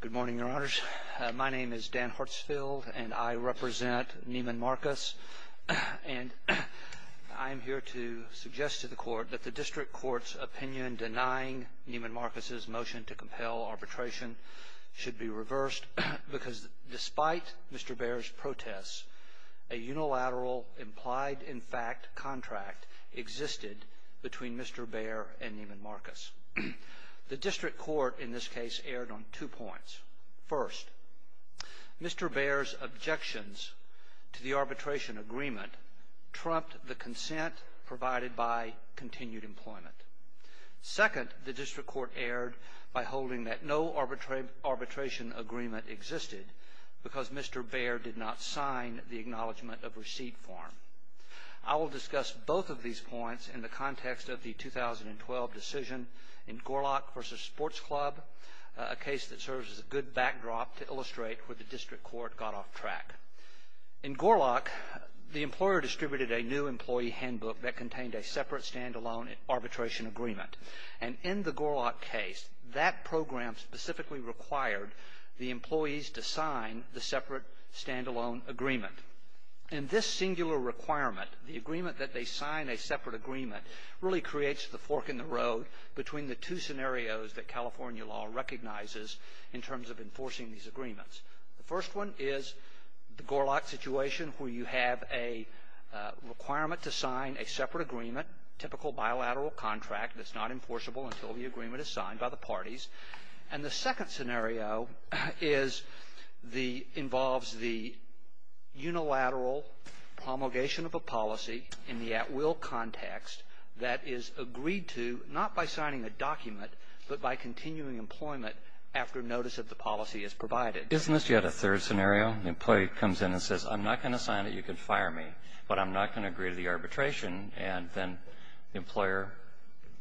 Good morning, Your Honors. My name is Dan Hartsfield, and I represent Neiman Marcus, and I'm here to suggest to the Court that the District Court's opinion denying Neiman Marcus's motion to compel arbitration should be reversed because, despite Mr. Bayer's protests, a unilateral implied-in-fact contract existed between Mr. Bayer and Neiman Marcus. The District Court, in this case, erred on two points. First, Mr. Bayer's objections to the arbitration agreement trumped the consent provided by continued employment. Second, the District Court erred by holding that no arbitration agreement existed because Mr. Bayer did not sign the Acknowledgement of Receipt form. I will discuss both of these points in the club, a case that serves as a good backdrop to illustrate where the District Court got off track. In Gorlock, the employer distributed a new employee handbook that contained a separate stand-alone arbitration agreement. And in the Gorlock case, that program specifically required the employees to sign the separate stand-alone agreement. And this singular requirement, the agreement that they sign a separate agreement, really creates the fork in the road between the two scenarios that California law recognizes in terms of enforcing these agreements. The first one is the Gorlock situation, where you have a requirement to sign a separate agreement, a typical bilateral contract that's not enforceable until the agreement is signed by the parties. And the second scenario involves the unilateral promulgation of a policy in the at-will context that is agreed to not by signing a document, but by continuing employment after notice of the policy is provided. Isn't this yet a third scenario? The employee comes in and says, I'm not going to sign it, you can fire me, but I'm not going to agree to the arbitration, and then the employer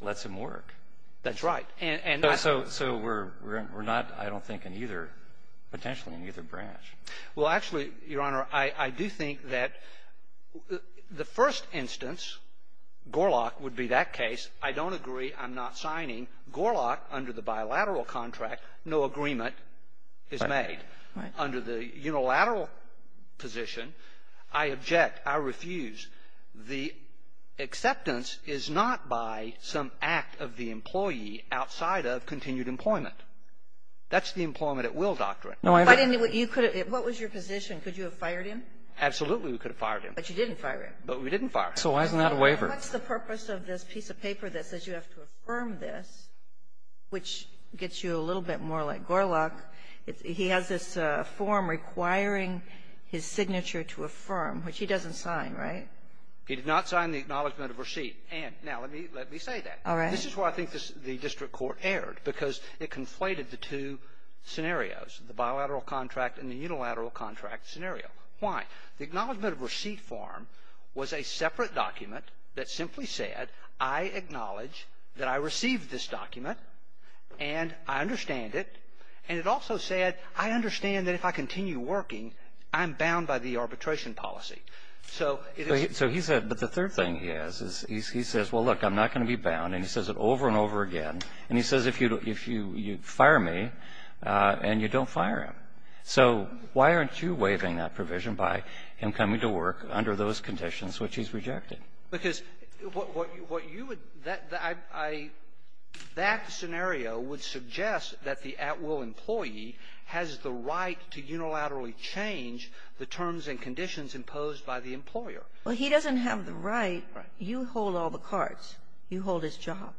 lets him work. That's right. And so we're not, I don't think, in either, potentially in either branch. Well, actually, Your Honor, I do think that the first instance, Gorlock would be that case, I don't agree, I'm not signing. Gorlock, under the bilateral contract, no agreement is made. Right. Under the unilateral position, I object, I refuse. The acceptance is not by some act of the employee outside of continued employment. That's the employment-at-will doctrine. No, I didn't do what you could have, what was your position? Could you have fired him? Absolutely, we could have fired him. But you didn't fire him. But we didn't fire him. So why isn't that a waiver? What's the purpose of this piece of paper that says you have to affirm this, which gets you a little bit more like Gorlock. He has this form requiring his signature to affirm, which he doesn't sign, right? He did not sign the acknowledgment of receipt. And now, let me say that. All right. This is where I think the district court erred, because it conflated the two scenarios, the bilateral contract and the unilateral contract scenario. Why? The acknowledgment of receipt form was a separate document that simply said, I acknowledge that I received this document, and I understand it. And it also said, I understand that if I continue working, I'm bound by the arbitration policy. So it is. So he said, but the third thing he has is he says, well, look, I'm not going to be bound. And he says it over and over again. And he says, if you fire me, and you don't fire him. So why aren't you waiving that provision by him coming to work under those conditions which he's rejected? Because what you would that I that scenario would suggest that the at-will employee has the right to unilaterally change the terms and conditions imposed by the employer. Well, he doesn't have the right. You hold all the cards. You hold his job.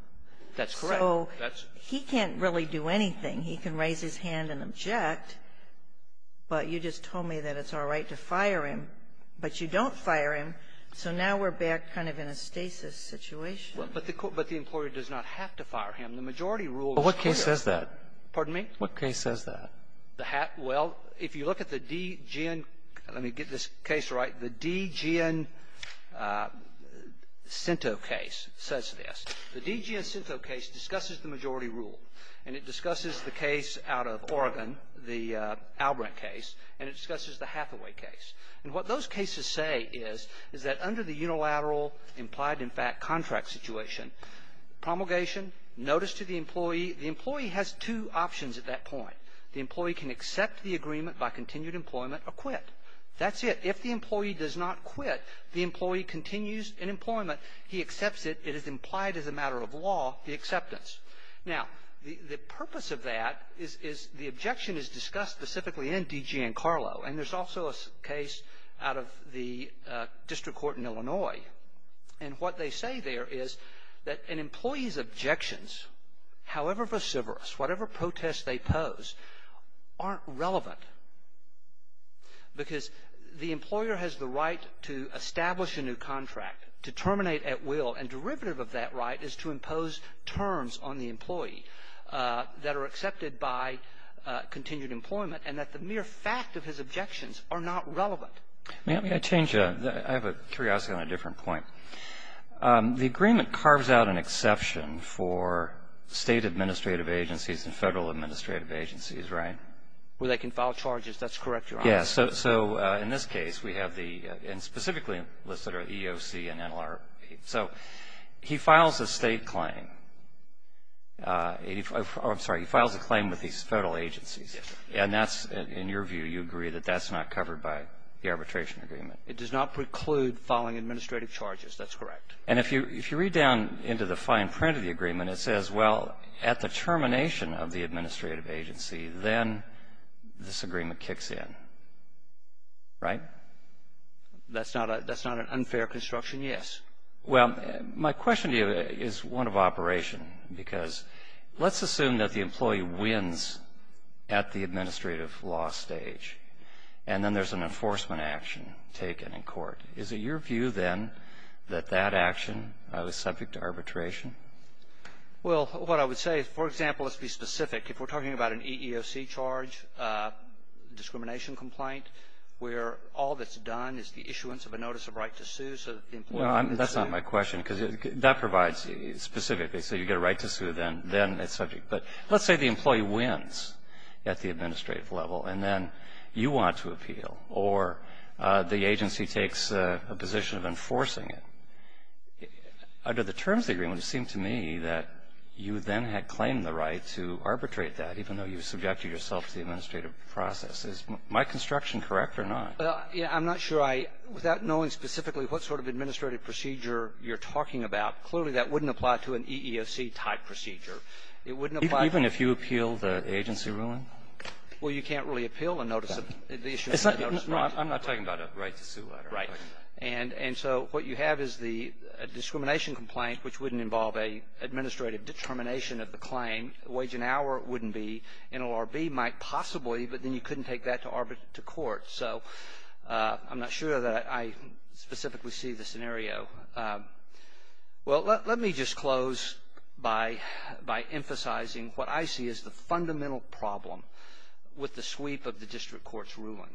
That's correct. So he can't really do anything. He can raise his hand and object. But you just told me that it's all right to fire him. But you don't fire him. So now we're back kind of in a stasis situation. Well, but the employer does not have to fire him. The majority rule is clear. Well, what case says that? Pardon me? What case says that? The hat? Well, if you look at the DGN – let me get this case right. The DGN-Cinto case says this. The DGN-Cinto case discusses the majority rule. And it discusses the case out of Oregon, the Albrant case. And it discusses the Hathaway case. And what those cases say is, is that under the unilateral implied, in fact, contract situation, promulgation, notice to the employee, the employee has two options at that point. The employee can accept the agreement by continued employment or quit. That's it. If the employee does not quit, the employee continues in employment. He accepts it. It is implied as a matter of law, the acceptance. Now, the purpose of that is the objection is discussed specifically in DGN-Carlo. And there's also a case out of the district court in Illinois. And what they say there is that an employee's objections, however vociferous, whatever protest they pose, aren't relevant. Because the employer has the right to establish a new contract, to terminate at the new contract. And the derivative of that right is to impose terms on the employee that are accepted by continued employment, and that the mere fact of his objections are not relevant. Let me change. I have a curiosity on a different point. The agreement carves out an exception for state administrative agencies and federal administrative agencies, right? Where they can file charges. That's correct, Your Honor. Yes. So, in this case, we have the, and specifically listed are EOC and NLRP. So, he files a state claim. I'm sorry, he files a claim with these federal agencies. Yes, sir. And that's, in your view, you agree that that's not covered by the arbitration agreement? It does not preclude filing administrative charges. That's correct. And if you read down into the fine print of the agreement, it says, well, at the termination of the administrative agency, then this agreement kicks in. Right? That's not an unfair construction, yes. Well, my question to you is one of operation, because let's assume that the employee wins at the administrative law stage, and then there's an enforcement action taken in court. Is it your view, then, that that action is subject to arbitration? Well, what I would say, for example, let's be specific. If we're talking about an EEOC charge, discrimination complaint, where all that's done is the issuance of a notice of right to sue so that the employee can sue. No, that's not my question, because that provides, specifically, so you get a right to sue, then it's subject. But let's say the employee wins at the administrative level, and then you want to appeal, or the agency takes a position of enforcing it. Under the terms of the agreement, it seemed to me that you then had claimed the right to arbitrate that, even though you subjected yourself to the administrative process. Is my construction correct or not? Well, yeah, I'm not sure I – without knowing specifically what sort of administrative procedure you're talking about, clearly that wouldn't apply to an EEOC-type procedure. It wouldn't apply to – Even if you appeal the agency ruling? Well, you can't really appeal a notice of – the issuance of a notice of right to sue. I'm not talking about a right to sue letter. Right. And so what you have is the discrimination complaint, which wouldn't involve an administrative determination of the claim. Wage and hour wouldn't be. NLRB might possibly, but then you couldn't take that to court. So I'm not sure that I specifically see the scenario. Well, let me just close by emphasizing what I see as the fundamental problem with the sweep of the district court's ruling,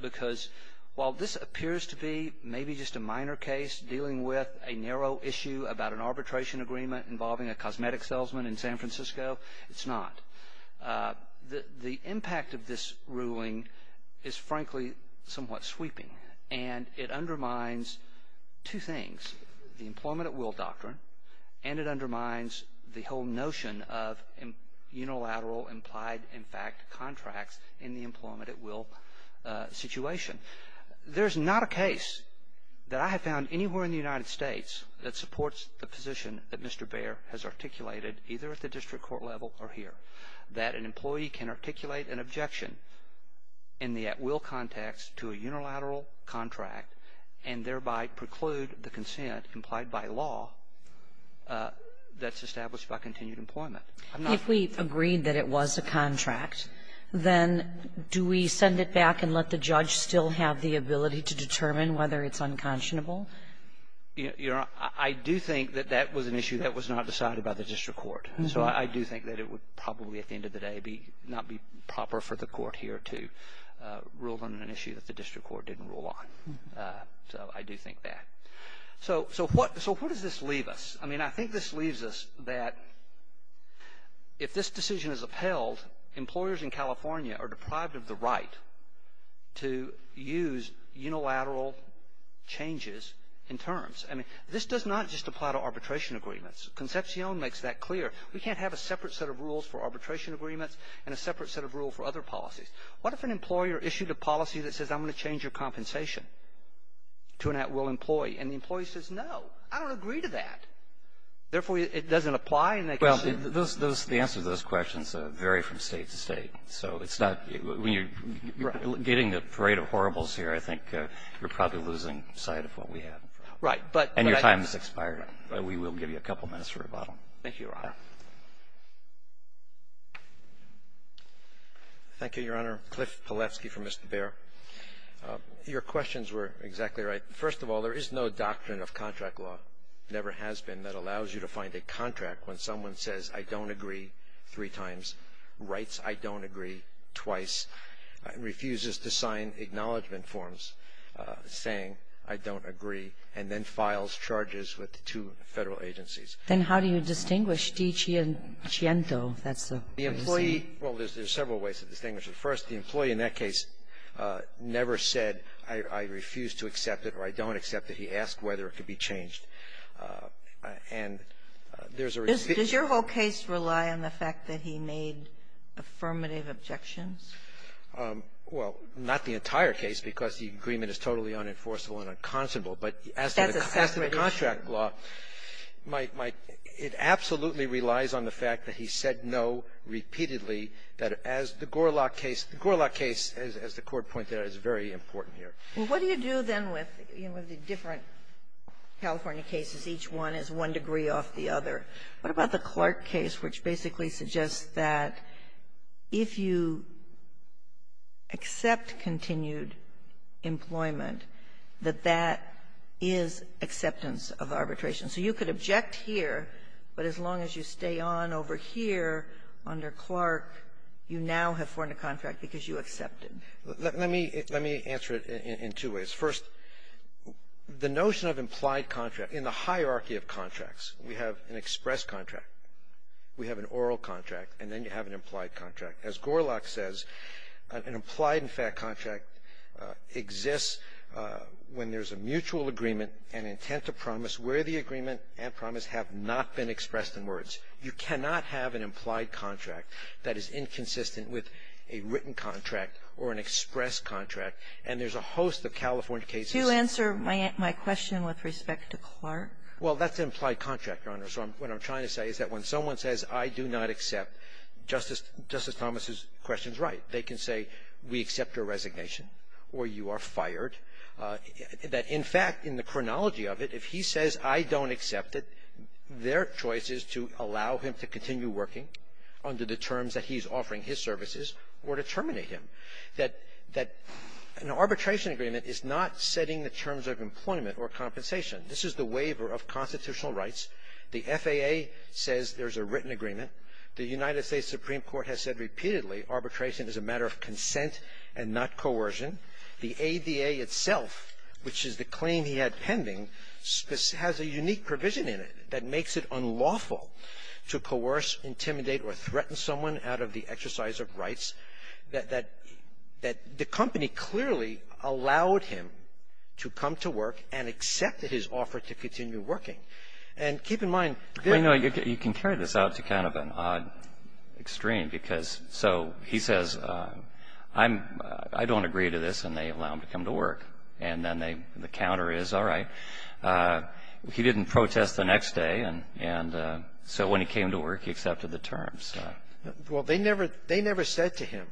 because while this appears to be maybe just a minor case dealing with a narrow issue about an arbitration agreement involving a cosmetic salesman in San Francisco, it's not. The impact of this ruling is, frankly, somewhat sweeping. And it undermines two things, the employment at will doctrine, and it undermines the whole employment at will situation. There's not a case that I have found anywhere in the United States that supports the position that Mr. Baer has articulated, either at the district court level or here, that an employee can articulate an objection in the at will context to a unilateral contract and thereby preclude the consent implied by law that's established by continued employment. If we agreed that it was a contract, then do we send it back and let the judge still have the ability to determine whether it's unconscionable? I do think that that was an issue that was not decided by the district court. So I do think that it would probably, at the end of the day, not be proper for the court here to rule on an issue that the district court didn't rule on. So I do think that. So what does this leave us? I mean, I think this leaves us that if this decision is upheld, employers in California are deprived of the right to use unilateral changes in terms. I mean, this does not just apply to arbitration agreements. Concepcion makes that clear. We can't have a separate set of rules for arbitration agreements and a separate set of rules for other policies. What if an employer issued a policy that says I'm going to change your compensation to an at will employee? And the employee says no. I don't agree to that. Therefore, it doesn't apply. And they can say no. Well, the answer to those questions vary from State to State. So it's not when you're getting the parade of horribles here, I think you're probably losing sight of what we have. Right. And your time has expired. We will give you a couple minutes for rebuttal. Thank you, Your Honor. Thank you, Your Honor. Cliff Pilevsky for Mr. Baer. Your questions were exactly right. First of all, there is no doctrine of contract law, never has been, that allows you to find a contract when someone says I don't agree three times, writes I don't agree twice, refuses to sign acknowledgment forms saying I don't agree, and then files charges with the two Federal agencies. Then how do you distinguish di ciento? That's the employee. Well, there's several ways to distinguish it. First, the employee in that case never said I refuse to accept it or I don't accept it. He asked whether it could be changed. And there's a reason. Does your whole case rely on the fact that he made affirmative objections? Well, not the entire case, because the agreement is totally unenforceable and unconscionable. But as to the contract law, it absolutely relies on the fact that he said no repeatedly, that as the Gorlock case, the Gorlock case, as the Court pointed out, is very important here. Well, what do you do, then, with the different California cases? Each one is one degree off the other. What about the Clark case, which basically suggests that if you accept continued employment, that that is acceptance of arbitration? So you could object here, but as long as you stay on over here under Clark, you now have formed a contract because you accept it. Let me answer it in two ways. First, the notion of implied contract, in the hierarchy of contracts, we have an express contract, we have an oral contract, and then you have an implied contract. As Gorlock says, an implied in fact contract exists when there's a mutual agreement and intent to promise where the agreement and promise have not been expressed in words. You cannot have an implied contract that is inconsistent with a written contract or an express contract. And there's a host of California cases --- To answer my question with respect to Clark? Well, that's an implied contract, Your Honor. So what I'm trying to say is that when someone says, I do not accept, Justice Thomas's question is right. They can say, we accept your resignation, or you are fired. That, in fact, in the chronology of it, if he says, I don't accept it, their choice is to allow him to continue working under the terms that he's offering his services or to terminate him. That an arbitration agreement is not setting the terms of employment or compensation. This is the waiver of constitutional rights. The FAA says there's a written agreement. The United States Supreme Court has said repeatedly arbitration is a matter of consent and not coercion. The ADA itself, which is the claim he had pending, has a unique provision in it that makes it unlawful to coerce, intimidate, or threaten someone out of the exercise of rights that the company clearly allowed him to come to work and accepted his offer to continue working. And keep in mind this --- Well, you know, you can carry this out to kind of an odd extreme because so he says, I don't agree to this, and they allow him to come to work. And then the counter is, all right. He didn't protest the next day, and so when he came to work, he accepted the terms. Well, they never said to him,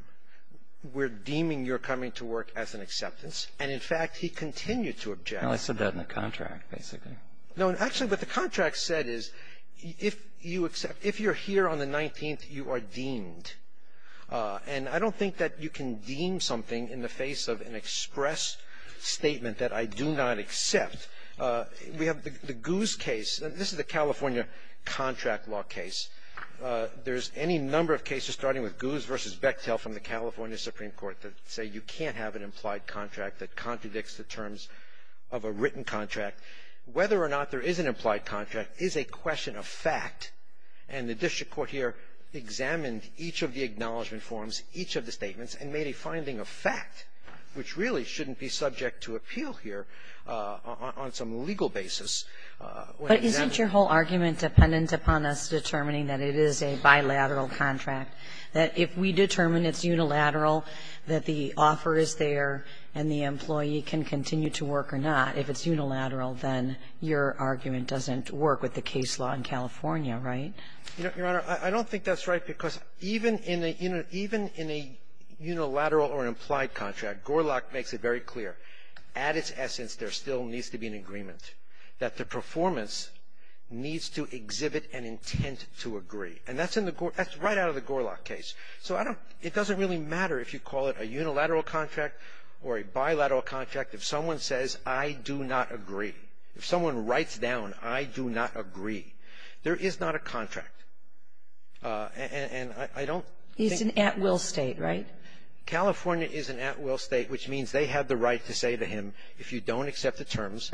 we're deeming you're coming to work as an acceptance. And, in fact, he continued to object. No, I said that in the contract, basically. No, actually, what the contract said is if you're here on the 19th, you are deemed. And I don't think that you can deem something in the face of an express statement that I do not accept. We have the Goose case. This is a California contract law case. There's any number of cases, starting with Goose v. Bechtel from the California Supreme Court, that say you can't have an implied contract that contradicts the terms of a written contract. Whether or not there is an implied contract is a question of fact. And the district court here examined each of the acknowledgement forms, each of the statements, and made a finding of fact, which really shouldn't be subject to appeal here on some legal basis. But isn't your whole argument dependent upon us determining that it is a bilateral contract, that if we determine it's unilateral, that the offer is there and the employee can continue to work or not? If it's unilateral, then your argument doesn't work with the case law in California, right? You know, Your Honor, I don't think that's right, because even in a unilateral or implied contract, Gorlach makes it very clear. At its essence, there still needs to be an agreement, that the performance needs to exhibit an intent to agree. And that's in the Gorlach – that's right out of the Gorlach case. So I don't – it doesn't really matter if you call it a unilateral contract or a bilateral contract, if someone says, I do not agree. If someone writes down, I do not agree, there is not a contract. And I don't think – He's an at-will State, right? California is an at-will State, which means they have the right to say to him, if you don't accept the terms,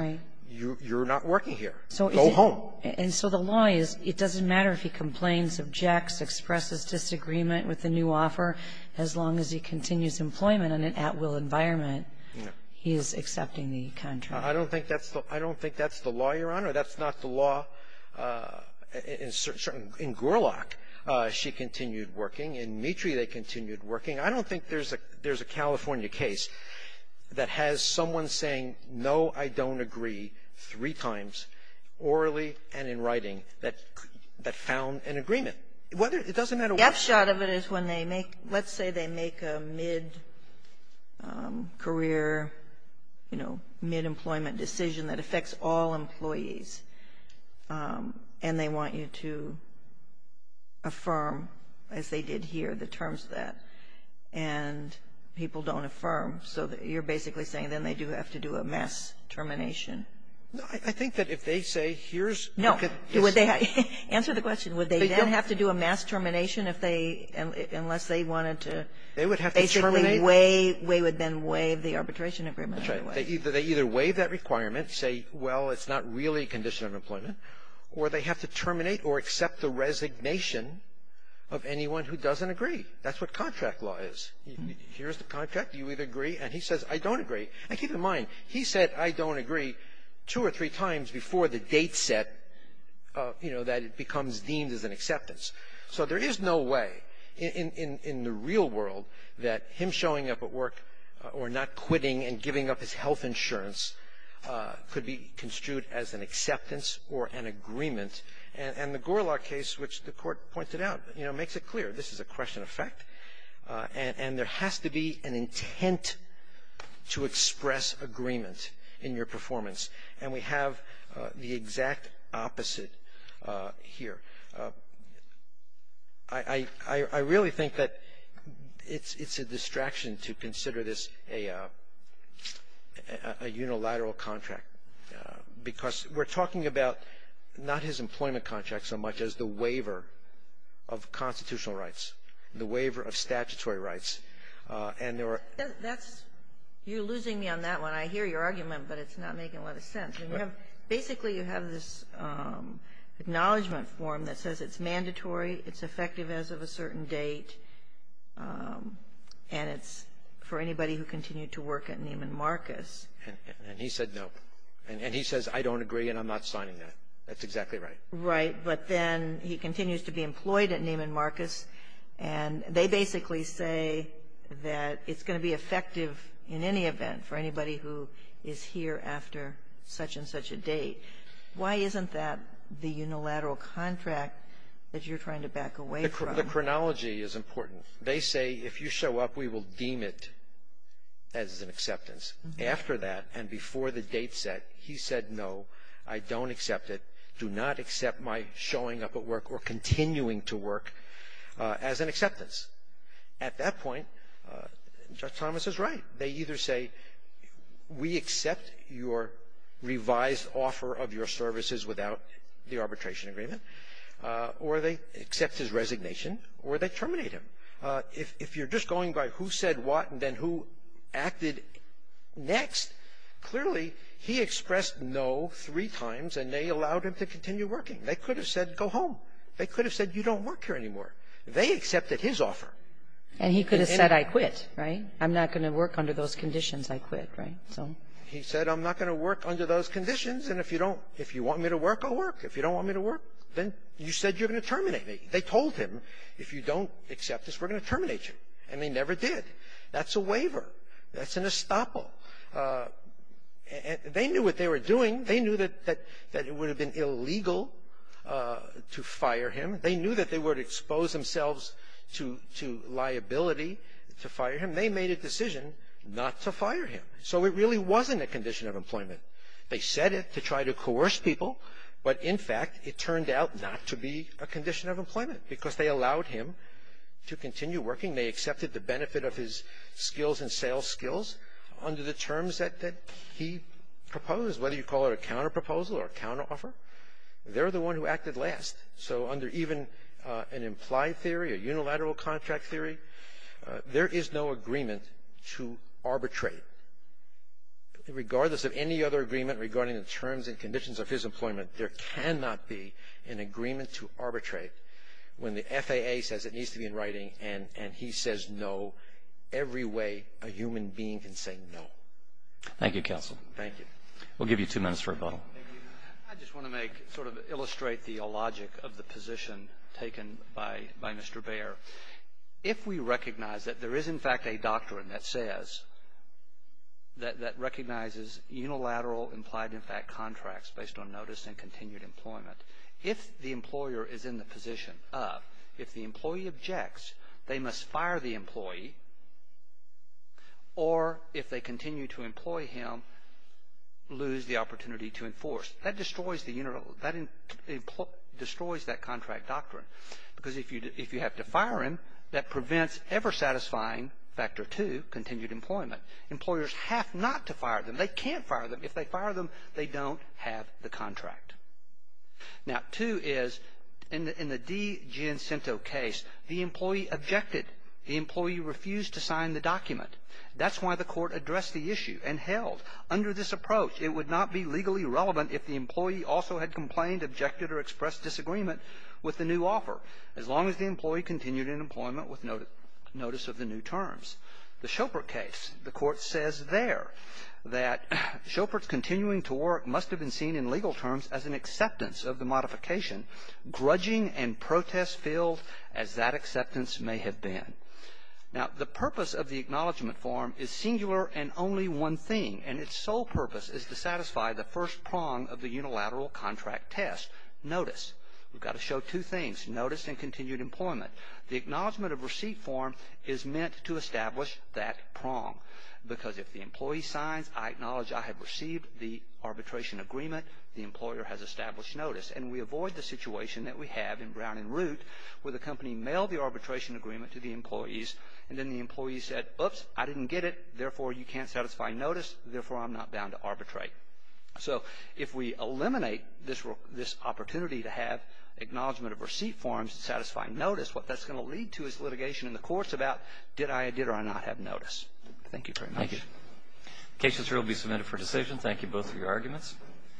you're not working here. Go home. And so the law is, it doesn't matter if he complains, objects, expresses disagreement with the new offer, as long as he continues employment in an at-will environment, he is accepting the contract. I don't think that's the – I don't think that's the law, Your Honor. That's not the law in certain – in Gorlach. She continued working. In Meetry, they continued working. I don't think there's a – there's a California case that has someone saying, no, I don't agree, three times, orally and in writing, that found an agreement. Whether – it doesn't matter what – The upshot of it is when they make – let's say they make a mid-career, you know, mid-employment decision that affects all employees, and they want you to affirm, as they did here, the terms of that, and people don't affirm. So you're basically saying then they do have to do a mass termination. I think that if they say, here's – No. Answer the question. Would they then have to do a mass termination if they – unless they wanted to – They would have to terminate. Basically waive – they would then waive the arbitration agreement. That's right. They either waive that requirement, say, well, it's not really a condition of employment, or they have to terminate or accept the resignation of anyone who doesn't agree. That's what contract law is. Here's the contract. You either agree, and he says, I don't agree. And keep in mind, he said, I don't agree, two or three times before the date set, that it becomes deemed as an acceptance. So there is no way in the real world that him showing up at work or not quitting and giving up his health insurance could be construed as an acceptance or an agreement. And the Gorlach case, which the Court pointed out, makes it clear this is a question of fact, and there has to be an intent to express agreement in your performance. And we have the exact opposite here. I really think that it's a distraction to consider this a unilateral contract, because we're talking about not his employment contract so much as the waiver of constitutional rights, the waiver of statutory rights. And there are – That's – you're losing me on that one. I hear your argument, but it's not making a lot of sense. Basically, you have this acknowledgement form that says it's mandatory, it's effective as of a certain date, and it's for anybody who continued to work at Neiman Marcus. And he said no. And he says, I don't agree, and I'm not signing that. That's exactly right. Right. But then he continues to be employed at Neiman Marcus, and they basically say that it's going to be effective in any event for anybody who is here after such and such a date. Why isn't that the unilateral contract that you're trying to back away from? The chronology is important. They say, if you show up, we will deem it as an acceptance. After that and before the date set, he said, no, I don't accept it. I do not accept my showing up at work or continuing to work as an acceptance. At that point, Judge Thomas is right. They either say, we accept your revised offer of your services without the arbitration agreement, or they accept his resignation, or they terminate him. If you're just going by who said what and then who acted next, clearly he expressed no three times, and they allowed him to continue working. They could have said, go home. They could have said, you don't work here anymore. They accepted his offer. And he could have said, I quit, right? I'm not going to work under those conditions. I quit, right? He said, I'm not going to work under those conditions, and if you don't If you want me to work, I'll work. If you don't want me to work, then you said you're going to terminate me. They told him, if you don't accept this, we're going to terminate you. And they never did. That's a waiver. That's an estoppel. They knew what they were doing. They knew that it would have been illegal to fire him. They knew that they would expose themselves to liability to fire him. They made a decision not to fire him. So it really wasn't a condition of employment. They said it to try to coerce people, but in fact, it turned out not to be a condition of employment because they allowed him to continue working. They accepted the benefit of his skills and sales skills under the terms that he proposed, whether you call it a counterproposal or a counteroffer. They're the one who acted last. So under even an implied theory, a unilateral contract theory, there is no agreement to arbitrate. Regardless of any other agreement regarding the terms and conditions of his employment, there cannot be an agreement to arbitrate when the FAA says it needs to be in writing and he says no every way a human being can say no. Thank you, Counsel. Thank you. We'll give you two minutes for rebuttal. I just want to sort of illustrate the logic of the position taken by Mr. Bair. If we recognize that there is in fact a doctrine that says, that recognizes unilateral implied in fact contracts based on notice and continued employment, if the employer is in the position of, if the employee objects, they must fire the employee or if they continue to employ him, lose the opportunity to enforce. That destroys that contract doctrine because if you have to fire him, that prevents ever satisfying factor two, continued employment. Employers have not to fire them. They can't fire them. If they fire them, they don't have the contract. Now, two is, in the D. Giancinto case, the employee objected. The employee refused to sign the document. That's why the court addressed the issue and held under this approach, it would not be legally relevant if the employee also had complained, objected, or expressed disagreement with the new offer, as long as the employee continued in employment with notice of the new terms. The Schoepert case, the court says there that Schoepert's continuing to work must have been seen in legal terms as an acceptance of the modification, grudging and protest-filled as that acceptance may have been. Now, the purpose of the acknowledgment form is singular and only one thing, and its sole purpose is to satisfy the first prong of the unilateral contract test, notice. We've got to show two things, notice and continued employment. The acknowledgment of receipt form is meant to establish that prong, because if the employee signs, I acknowledge I have received the arbitration agreement, the employer has established notice, and we avoid the situation that we have in Brown and Root, where the company mailed the arbitration agreement to the employees, and then the employees said, oops, I didn't get it. Therefore, you can't satisfy notice. Therefore, I'm not bound to arbitrate. So, if we eliminate this opportunity to have acknowledgment of receipt forms to satisfy notice, what that's going to lead to is litigation in the courts about did I or did I not have notice. Thank you very much. Thank you. The case will be submitted for decision. Thank you both for your arguments.